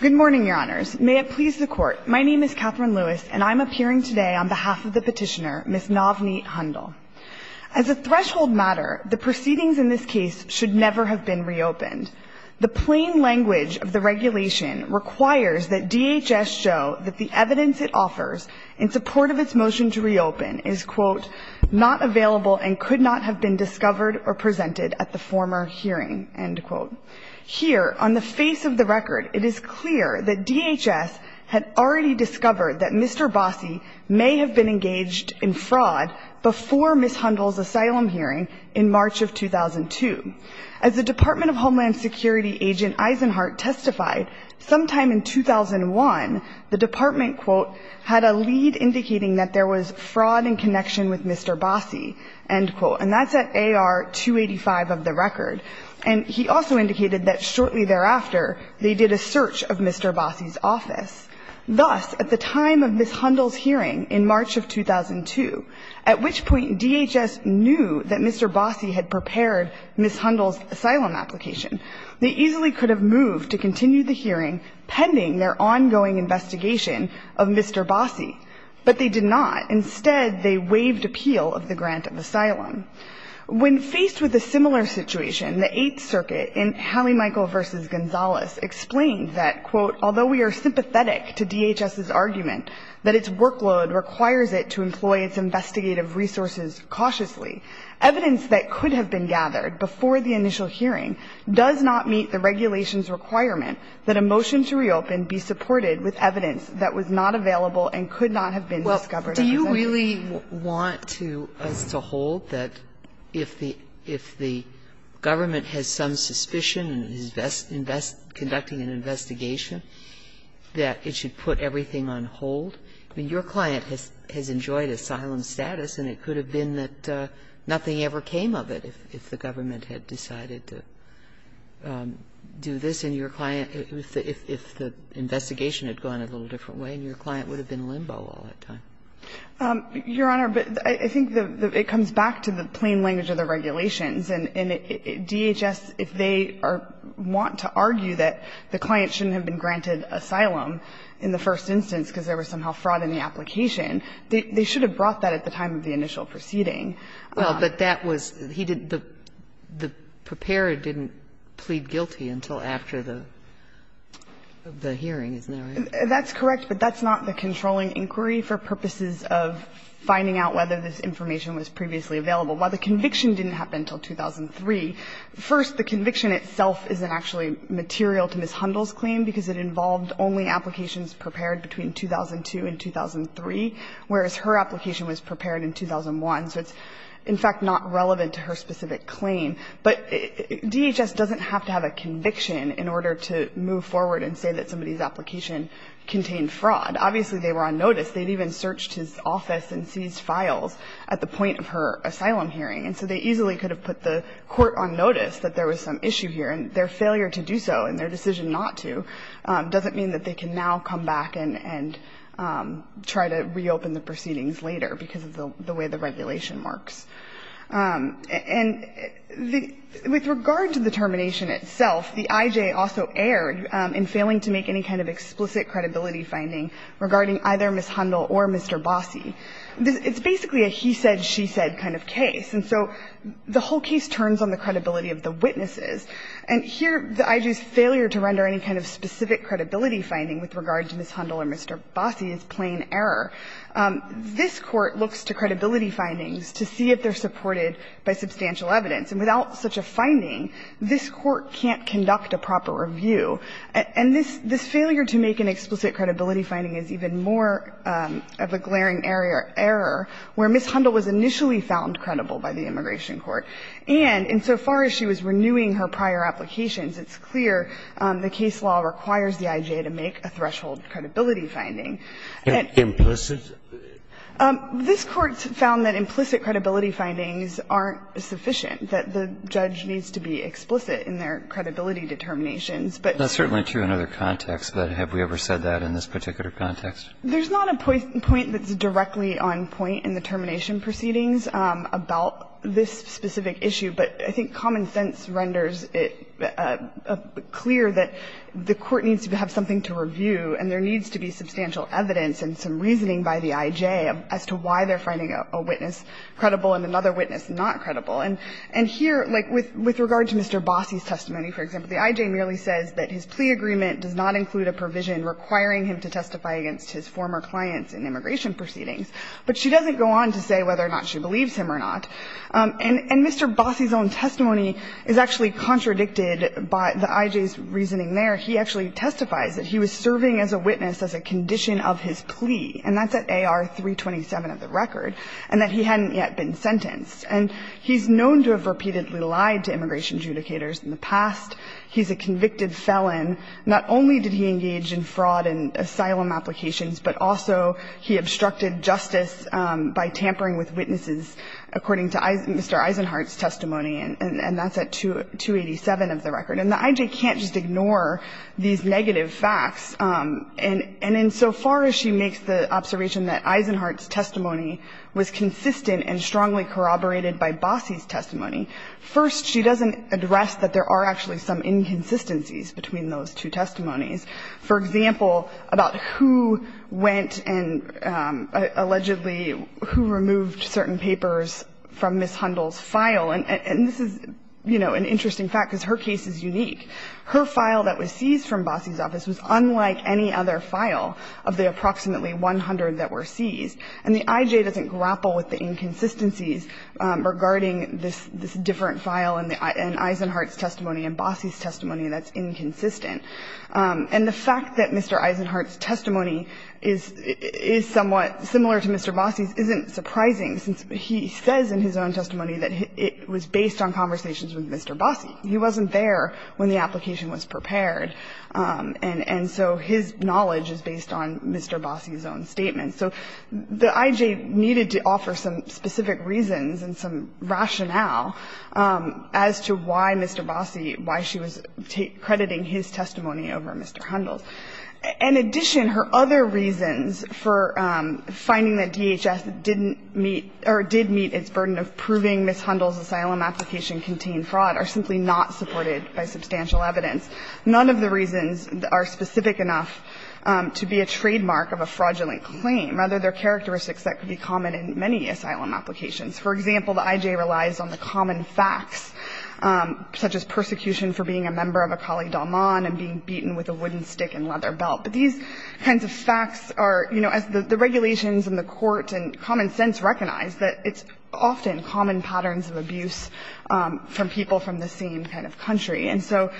Good morning, Your Honors. May it please the Court, my name is Katherine Lewis, and I'm appearing today on behalf of the petitioner, Ms. Navneet Handal. As a threshold matter, the proceedings in this case should never have been reopened. The plain language of the regulation requires that DHS show that the evidence it offers in support of its motion to reopen is, quote, not available and could not have been discovered or presented at the former hearing, end quote. Here, on the face of the record, it is clear that DHS had already discovered that Mr. Bossie may have been engaged in fraud before Ms. Handal's asylum hearing in March of 2002. As the Department of Homeland Security agent Eisenhardt testified, sometime in 2001, the department, quote, had a lead indicating that there was fraud in connection with Mr. Bossie, end quote. And that's at AR 285 of the record. And he also indicated that shortly thereafter they did a search of Mr. Bossie's office. Thus, at the time of Ms. Handal's hearing in March of 2002, at which point DHS knew that Mr. Bossie had prepared Ms. Handal's asylum application, they easily could have moved to continue the hearing pending their ongoing investigation of Mr. Bossie. But they did not. Instead, they waived appeal of the grant of asylum. When faced with a similar situation, the Eighth Circuit in Halley-Michael v. Gonzales explained that, quote, although we are sympathetic to DHS's argument that its workload requires it to employ its investigative resources cautiously, evidence that could have been gathered before the initial hearing does not meet the regulation's requirement that a motion to reopen be supported with evidence that was not available and could not have been discovered at the time. Sotomayor Do you really want us to hold that if the government has some suspicion in conducting an investigation, that it should put everything on hold? I mean, your client has enjoyed asylum status, and it could have been that nothing ever came of it if the government had decided to do this, and your client, if the investigation had gone a little different way, and your client would have been limbo all that time. Your Honor, I think it comes back to the plain language of the regulations. And DHS, if they want to argue that the client shouldn't have been granted asylum in the first instance because there was somehow fraud in the application, they should have brought that at the time of the initial proceeding. Well, but that was, he didn't, the preparer didn't plead guilty until after the hearing, isn't that right? That's correct, but that's not the controlling inquiry for purposes of finding out whether this information was previously available. While the conviction didn't happen until 2003, first, the conviction itself isn't actually material to Ms. Hundle's claim because it involved only applications prepared between 2002 and 2003, whereas her application was prepared in 2001. So it's, in fact, not relevant to her specific claim. But DHS doesn't have to have a conviction in order to move forward and say that somebody's application contained fraud. Obviously, they were on notice. They'd even searched his office and seized files at the point of her asylum hearing. And so they easily could have put the court on notice that there was some issue here, and their failure to do so and their decision not to doesn't mean that they can now come back and try to reopen the proceedings later because of the way the regulation works. And the, with regard to the termination itself, the IJ also erred in failing to make any kind of explicit credibility finding regarding either Ms. Hundle or Mr. Bossi. It's basically a he said, she said kind of case. And so the whole case turns on the credibility of the witnesses. And here the IJ's failure to render any kind of specific credibility finding with regard to Ms. Hundle or Mr. Bossi is plain error. This Court looks to credibility findings to see if they're supported by substantial evidence. And without such a finding, this Court can't conduct a proper review. And this failure to make an explicit credibility finding is even more of a glaring error where Ms. Hundle was initially found credible by the immigration court. And insofar as she was renewing her prior applications, it's clear the case law requires the IJ to make a threshold credibility finding. And implicit? This Court found that implicit credibility findings aren't sufficient, that the judge needs to be explicit in their credibility determinations, but. That's certainly true in other contexts. But have we ever said that in this particular context? There's not a point that's directly on point in the termination proceedings about this specific issue. But I think common sense renders it clear that the Court needs to have something to review and there needs to be substantial evidence and some reasoning by the IJ as to why they're finding a witness credible and another witness not credible. And here, like, with regard to Mr. Bossi's testimony, for example, the IJ merely says that his plea agreement does not include a provision requiring him to testify against his former clients in immigration proceedings. But she doesn't go on to say whether or not she believes him or not. And Mr. Bossi's own testimony is actually contradicted by the IJ's reasoning there. He actually testifies that he was serving as a witness as a condition of his plea, and that's at AR-327 of the record, and that he hadn't yet been sentenced. And he's known to have repeatedly lied to immigration adjudicators in the past. He's a convicted felon. Not only did he engage in fraud and asylum applications, but also he obstructed justice by tampering with witnesses, according to Mr. Eisenhardt's testimony, and that's at 287 of the record. And the IJ can't just ignore these negative facts. And insofar as she makes the observation that Eisenhardt's testimony was consistent and strongly corroborated by Bossi's testimony, first, she doesn't address that there are actually some inconsistencies between those two testimonies. For example, about who went and allegedly who removed certain papers from Ms. Hundle's file, and this is, you know, an interesting fact because her case is unique. Her file that was seized from Bossi's office was unlike any other file of the approximately 100 that were seized. And the IJ doesn't grapple with the inconsistencies regarding this different file in Eisenhardt's testimony and Bossi's testimony that's inconsistent. And the fact that Mr. Eisenhardt's testimony is somewhat similar to Mr. Bossi's isn't surprising, since he says in his own testimony that it was based on conversations with Mr. Bossi. He wasn't there when the application was prepared. And so his knowledge is based on Mr. Bossi's own statement. So the IJ needed to offer some specific reasons and some rationale as to why Mr. Bossi, why she was crediting his testimony over Mr. Hundle's. In addition, her other reasons for finding that DHS didn't meet or did meet its burden of proving Ms. Hundle's asylum application contained fraud are simply not supported by substantial evidence. None of the reasons are specific enough to be a trademark of a fraudulent claim, rather they're characteristics that could be common in many asylum applications. For example, the IJ relies on the common facts, such as persecution for being a member of Akali Dalman and being beaten with a wooden stick and leather belt. But these kinds of facts are, you know, as the regulations and the court and common sense recognize, that it's often common patterns of abuse from people from the same kind of country. And so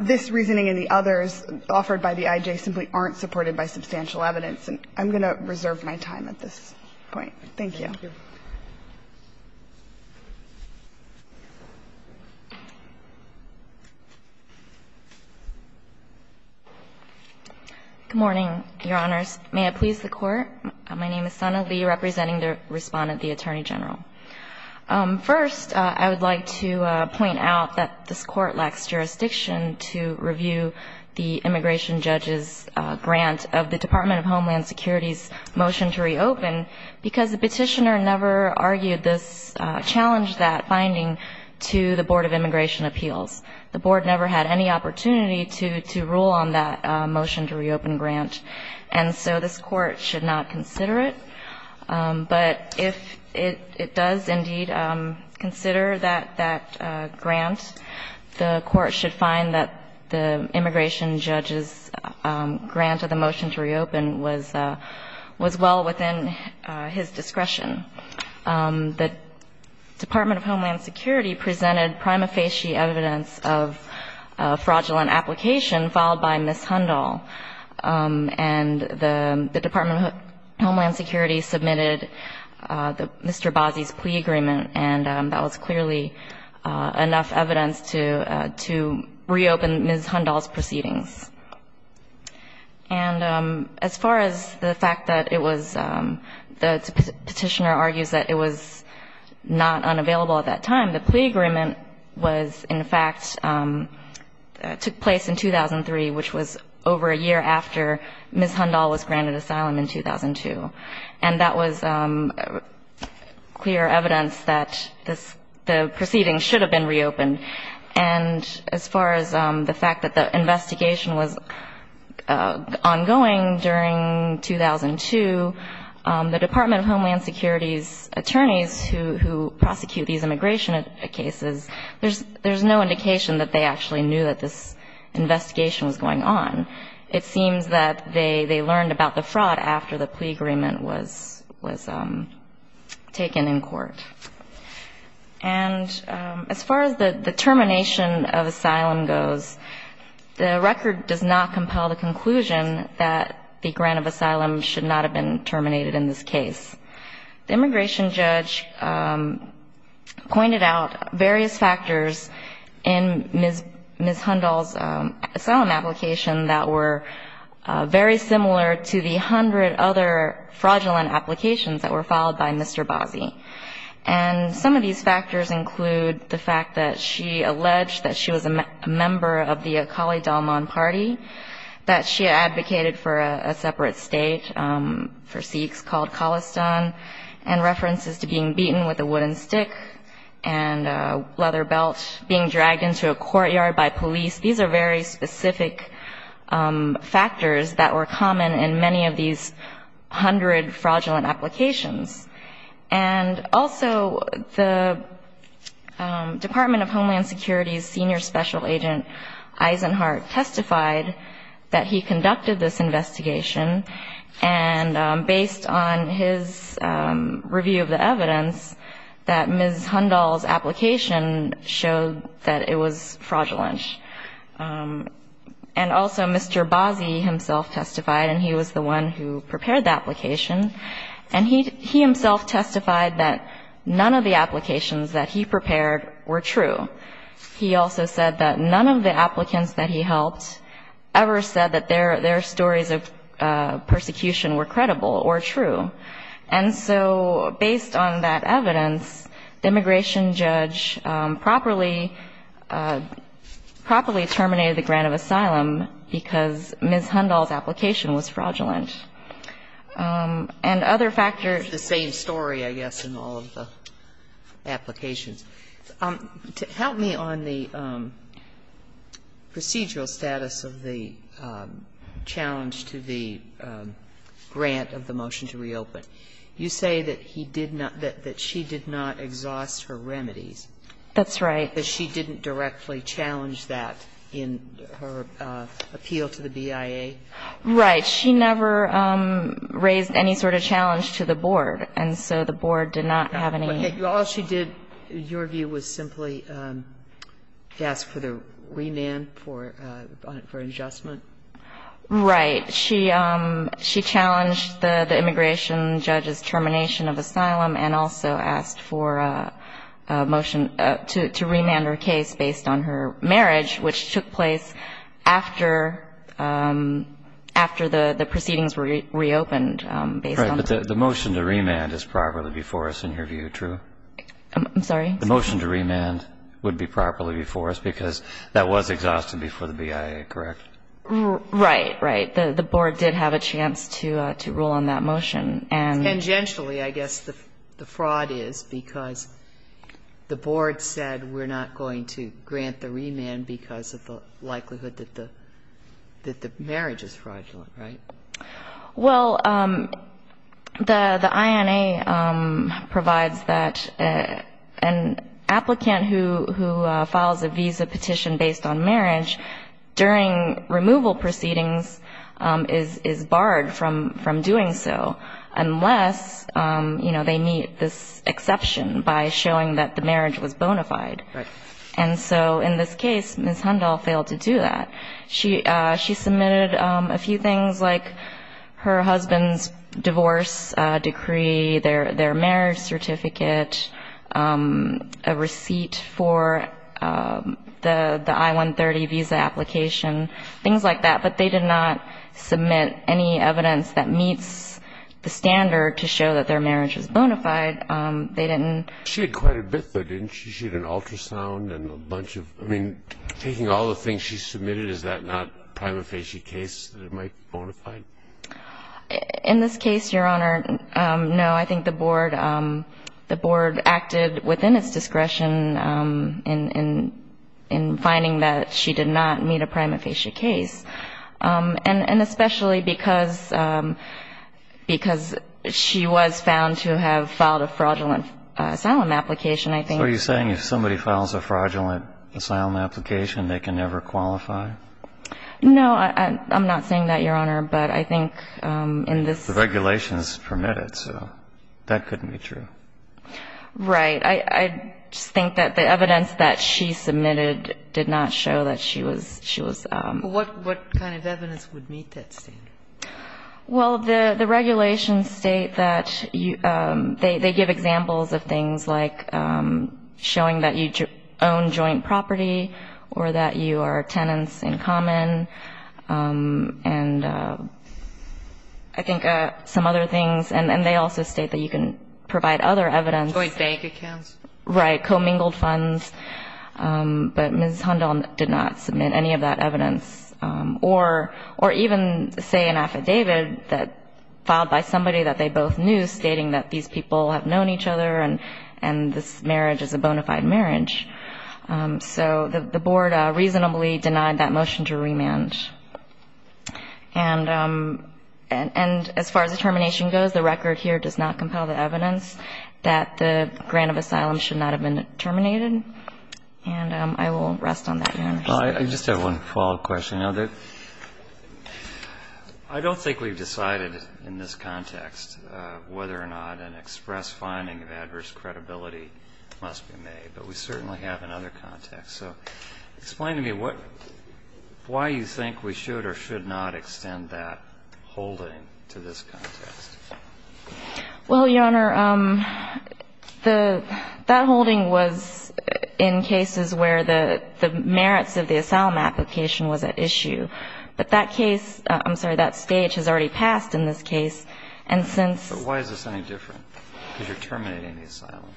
this reasoning and the others offered by the IJ simply aren't supported by substantial evidence. And I'm going to reserve my time at this point. Thank you. Thank you. Good morning, Your Honors. May it please the Court. My name is Sana Lee, representing the Respondent, the Attorney General. First, I would like to point out that this Court lacks jurisdiction to review the immigration judge's grant of the Department of Homeland Security's motion to reopen because the petitioner never argued this challenge, that finding, to the Board of Immigration Appeals. The Board never had any opportunity to rule on that motion to reopen grant. And so this Court should not consider it. But if it does indeed consider that grant, the Court should find that the immigration judge's grant of the motion to reopen was well within his discretion. The Department of Homeland Security presented prima facie evidence of fraudulent application filed by Ms. Hundahl. And the Department of Homeland Security submitted Mr. Bazzi's plea agreement, and that was clearly enough evidence to reopen Ms. Hundahl's proceedings. And as far as the fact that it was the petitioner argues that it was not unavailable at that time, the plea agreement was in fact took place in 2003, which was over a year after Ms. Hundahl was granted asylum in 2002. And that was clear evidence that the proceedings should have been reopened. And as far as the fact that the investigation was ongoing during 2002, the Department of Homeland Security's attorneys who prosecute these immigration cases, there's no indication that they actually knew that this investigation was going on. It seems that they learned about the fraud after the plea agreement was taken in court. And as far as the termination of asylum goes, the record does not compel the conclusion that the grant of asylum should not have been terminated in this case. The immigration judge pointed out various factors in Ms. Hundahl's asylum application that were very similar to the hundred other fraudulent applications that were filed by Mr. Bazzi. And some of these factors include the fact that she alleged that she was a member of the Akali Dalman Party, that she advocated for a separate state for Sikhs called Khalistan, and references to being beaten with a wooden stick and a leather belt, being dragged into a courtyard by police. These are very specific factors that were common in many of these hundred fraudulent applications. And also the Department of Homeland Security's senior special agent, Eisenhardt, testified that he conducted this investigation, and based on his review of the evidence, that Ms. Hundahl's application showed that it was fraudulent. And also Mr. Bazzi himself testified, and he was the one who prepared the application. And he himself testified that none of the applications that he prepared were true. He also said that none of the applicants that he helped ever said that their stories of persecution were credible or true. And so based on that evidence, the immigration judge properly terminated the grant of asylum because Ms. Hundahl's application was fraudulent. And other factors. It's the same story, I guess, in all of the applications. Help me on the procedural status of the challenge to the grant of the motion to reopen. You say that he did not, that she did not exhaust her remedies. That's right. That she didn't directly challenge that in her appeal to the BIA? Right. She never raised any sort of challenge to the board. And so the board did not have any. All she did, in your view, was simply ask for the remand for adjustment? Right. She challenged the immigration judge's termination of asylum and also asked for a motion to remand her case based on her marriage, which took place after the proceedings were reopened. Right. But the motion to remand is properly before us in your view, true? I'm sorry? The motion to remand would be properly before us because that was exhausted before the BIA, correct? Right. Right. The board did have a chance to rule on that motion. Tangentially, I guess, the fraud is because the board said we're not going to grant the remand because of the likelihood that the marriage is fraudulent, right? Well, the INA provides that an applicant who files a visa petition based on marriage during removal proceedings is barred from doing so unless, you know, they meet this exception by showing that the marriage was bona fide. Right. And so in this case, Ms. Hundahl failed to do that. She submitted a few things like her husband's divorce decree, their marriage certificate, a receipt for the I-130 visa application, things like that, but they did not submit any evidence that meets the standard to show that their marriage is bona fide. They didn't. She had quite a bit, though, didn't she? She had an ultrasound and a bunch of, I mean, taking all the things she submitted, is that not prima facie case that it might be bona fide? In this case, Your Honor, no. I think the board acted within its discretion in finding that she did not meet a prima facie case, and especially because she was found to have filed a fraudulent asylum application, I think. So are you saying if somebody files a fraudulent asylum application, they can never qualify? No, I'm not saying that, Your Honor, but I think in this ---- The regulations permit it, so that couldn't be true. Right. I just think that the evidence that she submitted did not show that she was ---- What kind of evidence would meet that standard? Well, the regulations state that they give examples of things like showing that you own joint property or that you are tenants in common. And I think some other things, and they also state that you can provide other evidence. Joint bank accounts. Right. Commingled funds. But Ms. Hundon did not submit any of that evidence. Or even say an affidavit filed by somebody that they both knew stating that these people have known each other and this marriage is a bona fide marriage. So the Board reasonably denied that motion to remand. And as far as the termination goes, the record here does not compel the evidence that the grant of asylum should not have been terminated. And I will rest on that, Your Honor. I just have one follow-up question. I don't think we've decided in this context whether or not an express finding of adverse credibility must be made, but we certainly have in other contexts. So explain to me what why you think we should or should not extend that holding to this context. Well, Your Honor, the that holding was in cases where the merits of the asylum application was at issue. But that case, I'm sorry, that stage has already passed in this case. And since. But why is this any different? Because you're terminating the asylum.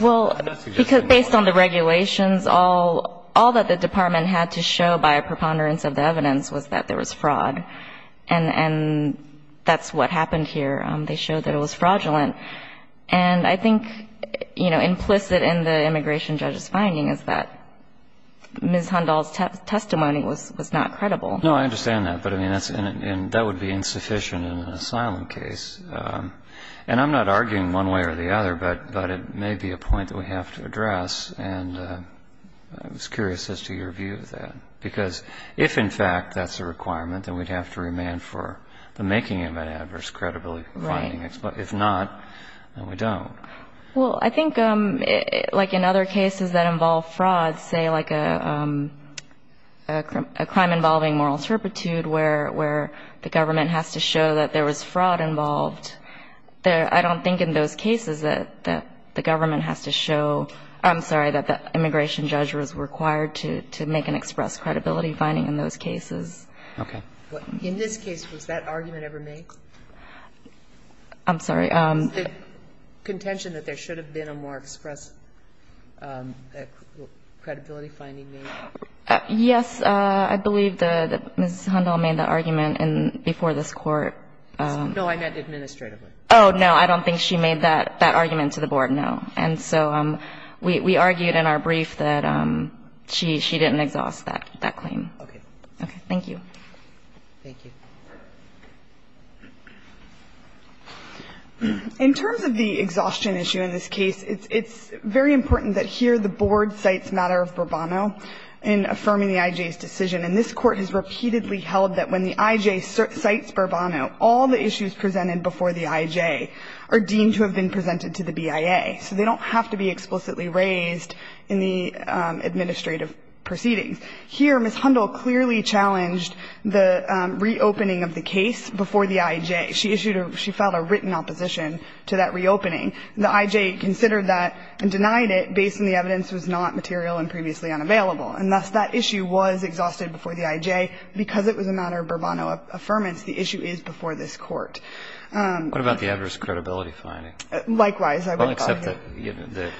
Well, because based on the regulations, all that the Department had to show by a preponderance of the evidence was that there was fraud. And that's what happened here. They showed that it was fraudulent. And I think, you know, implicit in the immigration judge's finding is that Ms. Hundahl's testimony was not credible. No, I understand that. But, I mean, that would be insufficient in an asylum case. And I'm not arguing one way or the other, but it may be a point that we have to address. And I was curious as to your view of that. Because if, in fact, that's a requirement, then we'd have to remand for the making of an adverse credibility finding. If not, then we don't. Well, I think like in other cases that involve fraud, say like a crime involving moral turpitude where the government has to show that there was fraud involved, I don't think in those cases that the government has to show, I'm sorry, that the immigration judge was required to make an express credibility finding in those cases. Okay. In this case, was that argument ever made? I'm sorry. Was the contention that there should have been a more express credibility finding made? Yes. I believe that Ms. Hundle made that argument before this Court. No, I meant administratively. Oh, no. I don't think she made that argument to the Board, no. And so we argued in our brief that she didn't exhaust that claim. Okay. Okay. Thank you. Thank you. In terms of the exhaustion issue in this case, it's very important that here the Board cites matter of Burbano in affirming the I.J.'s decision. And this Court has repeatedly held that when the I.J. cites Burbano, all the issues presented before the I.J. are deemed to have been presented to the BIA. So they don't have to be explicitly raised in the administrative proceedings. Here, Ms. Hundle clearly challenged the reopening of the case before the I.J. She issued a – she filed a written opposition to that reopening. The I.J. considered that and denied it based on the evidence was not material and previously unavailable. And thus that issue was exhausted before the I.J. Because it was a matter of Burbano affirmance, the issue is before this Court. What about the adverse credibility finding? Likewise, I would argue. Well, except that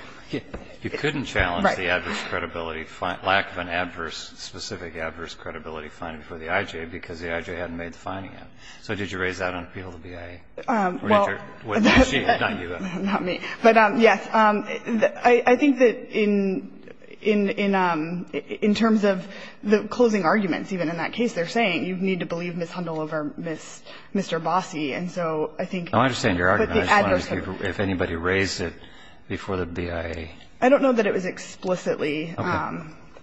you couldn't challenge the adverse credibility – lack of an adverse – specific adverse credibility finding for the I.J. because the I.J. hadn't made the finding yet. So did you raise that on appeal to the BIA? Well – Not you, though. Not me. But, yes. I think that in – in terms of the closing arguments, even in that case, they're saying you need to believe Ms. Hundle over Mr. Bossi. And so I think – I understand your argument. I just wanted to see if anybody raised it before the BIA. I don't know that it was explicitly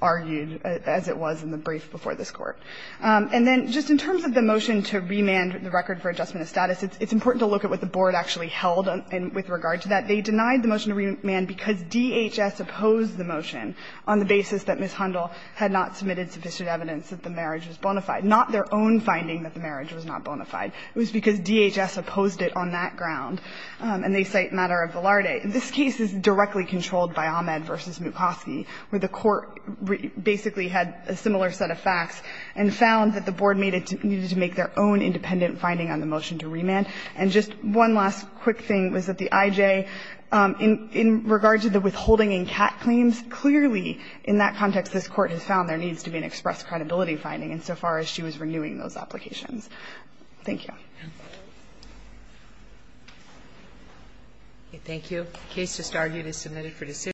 argued as it was in the brief before this Court. And then just in terms of the motion to remand the record for adjustment of status, it's important to look at what the Board actually held with regard to that. They denied the motion to remand because DHS opposed the motion on the basis that Ms. Hundle had not submitted sufficient evidence that the marriage was bona fide. Not their own finding that the marriage was not bona fide. It was because DHS opposed it on that ground. And they cite matter of Velarde. This case is directly controlled by Ahmed v. Mucosky, where the Court basically had a similar set of facts and found that the Board needed to make their own independent finding on the motion to remand. And just one last quick thing was that the IJ, in regard to the withholding in CAT claims, clearly in that context this Court has found there needs to be an express credibility finding insofar as she was renewing those applications. Thank you. Thank you. The case just argued is submitted for decision.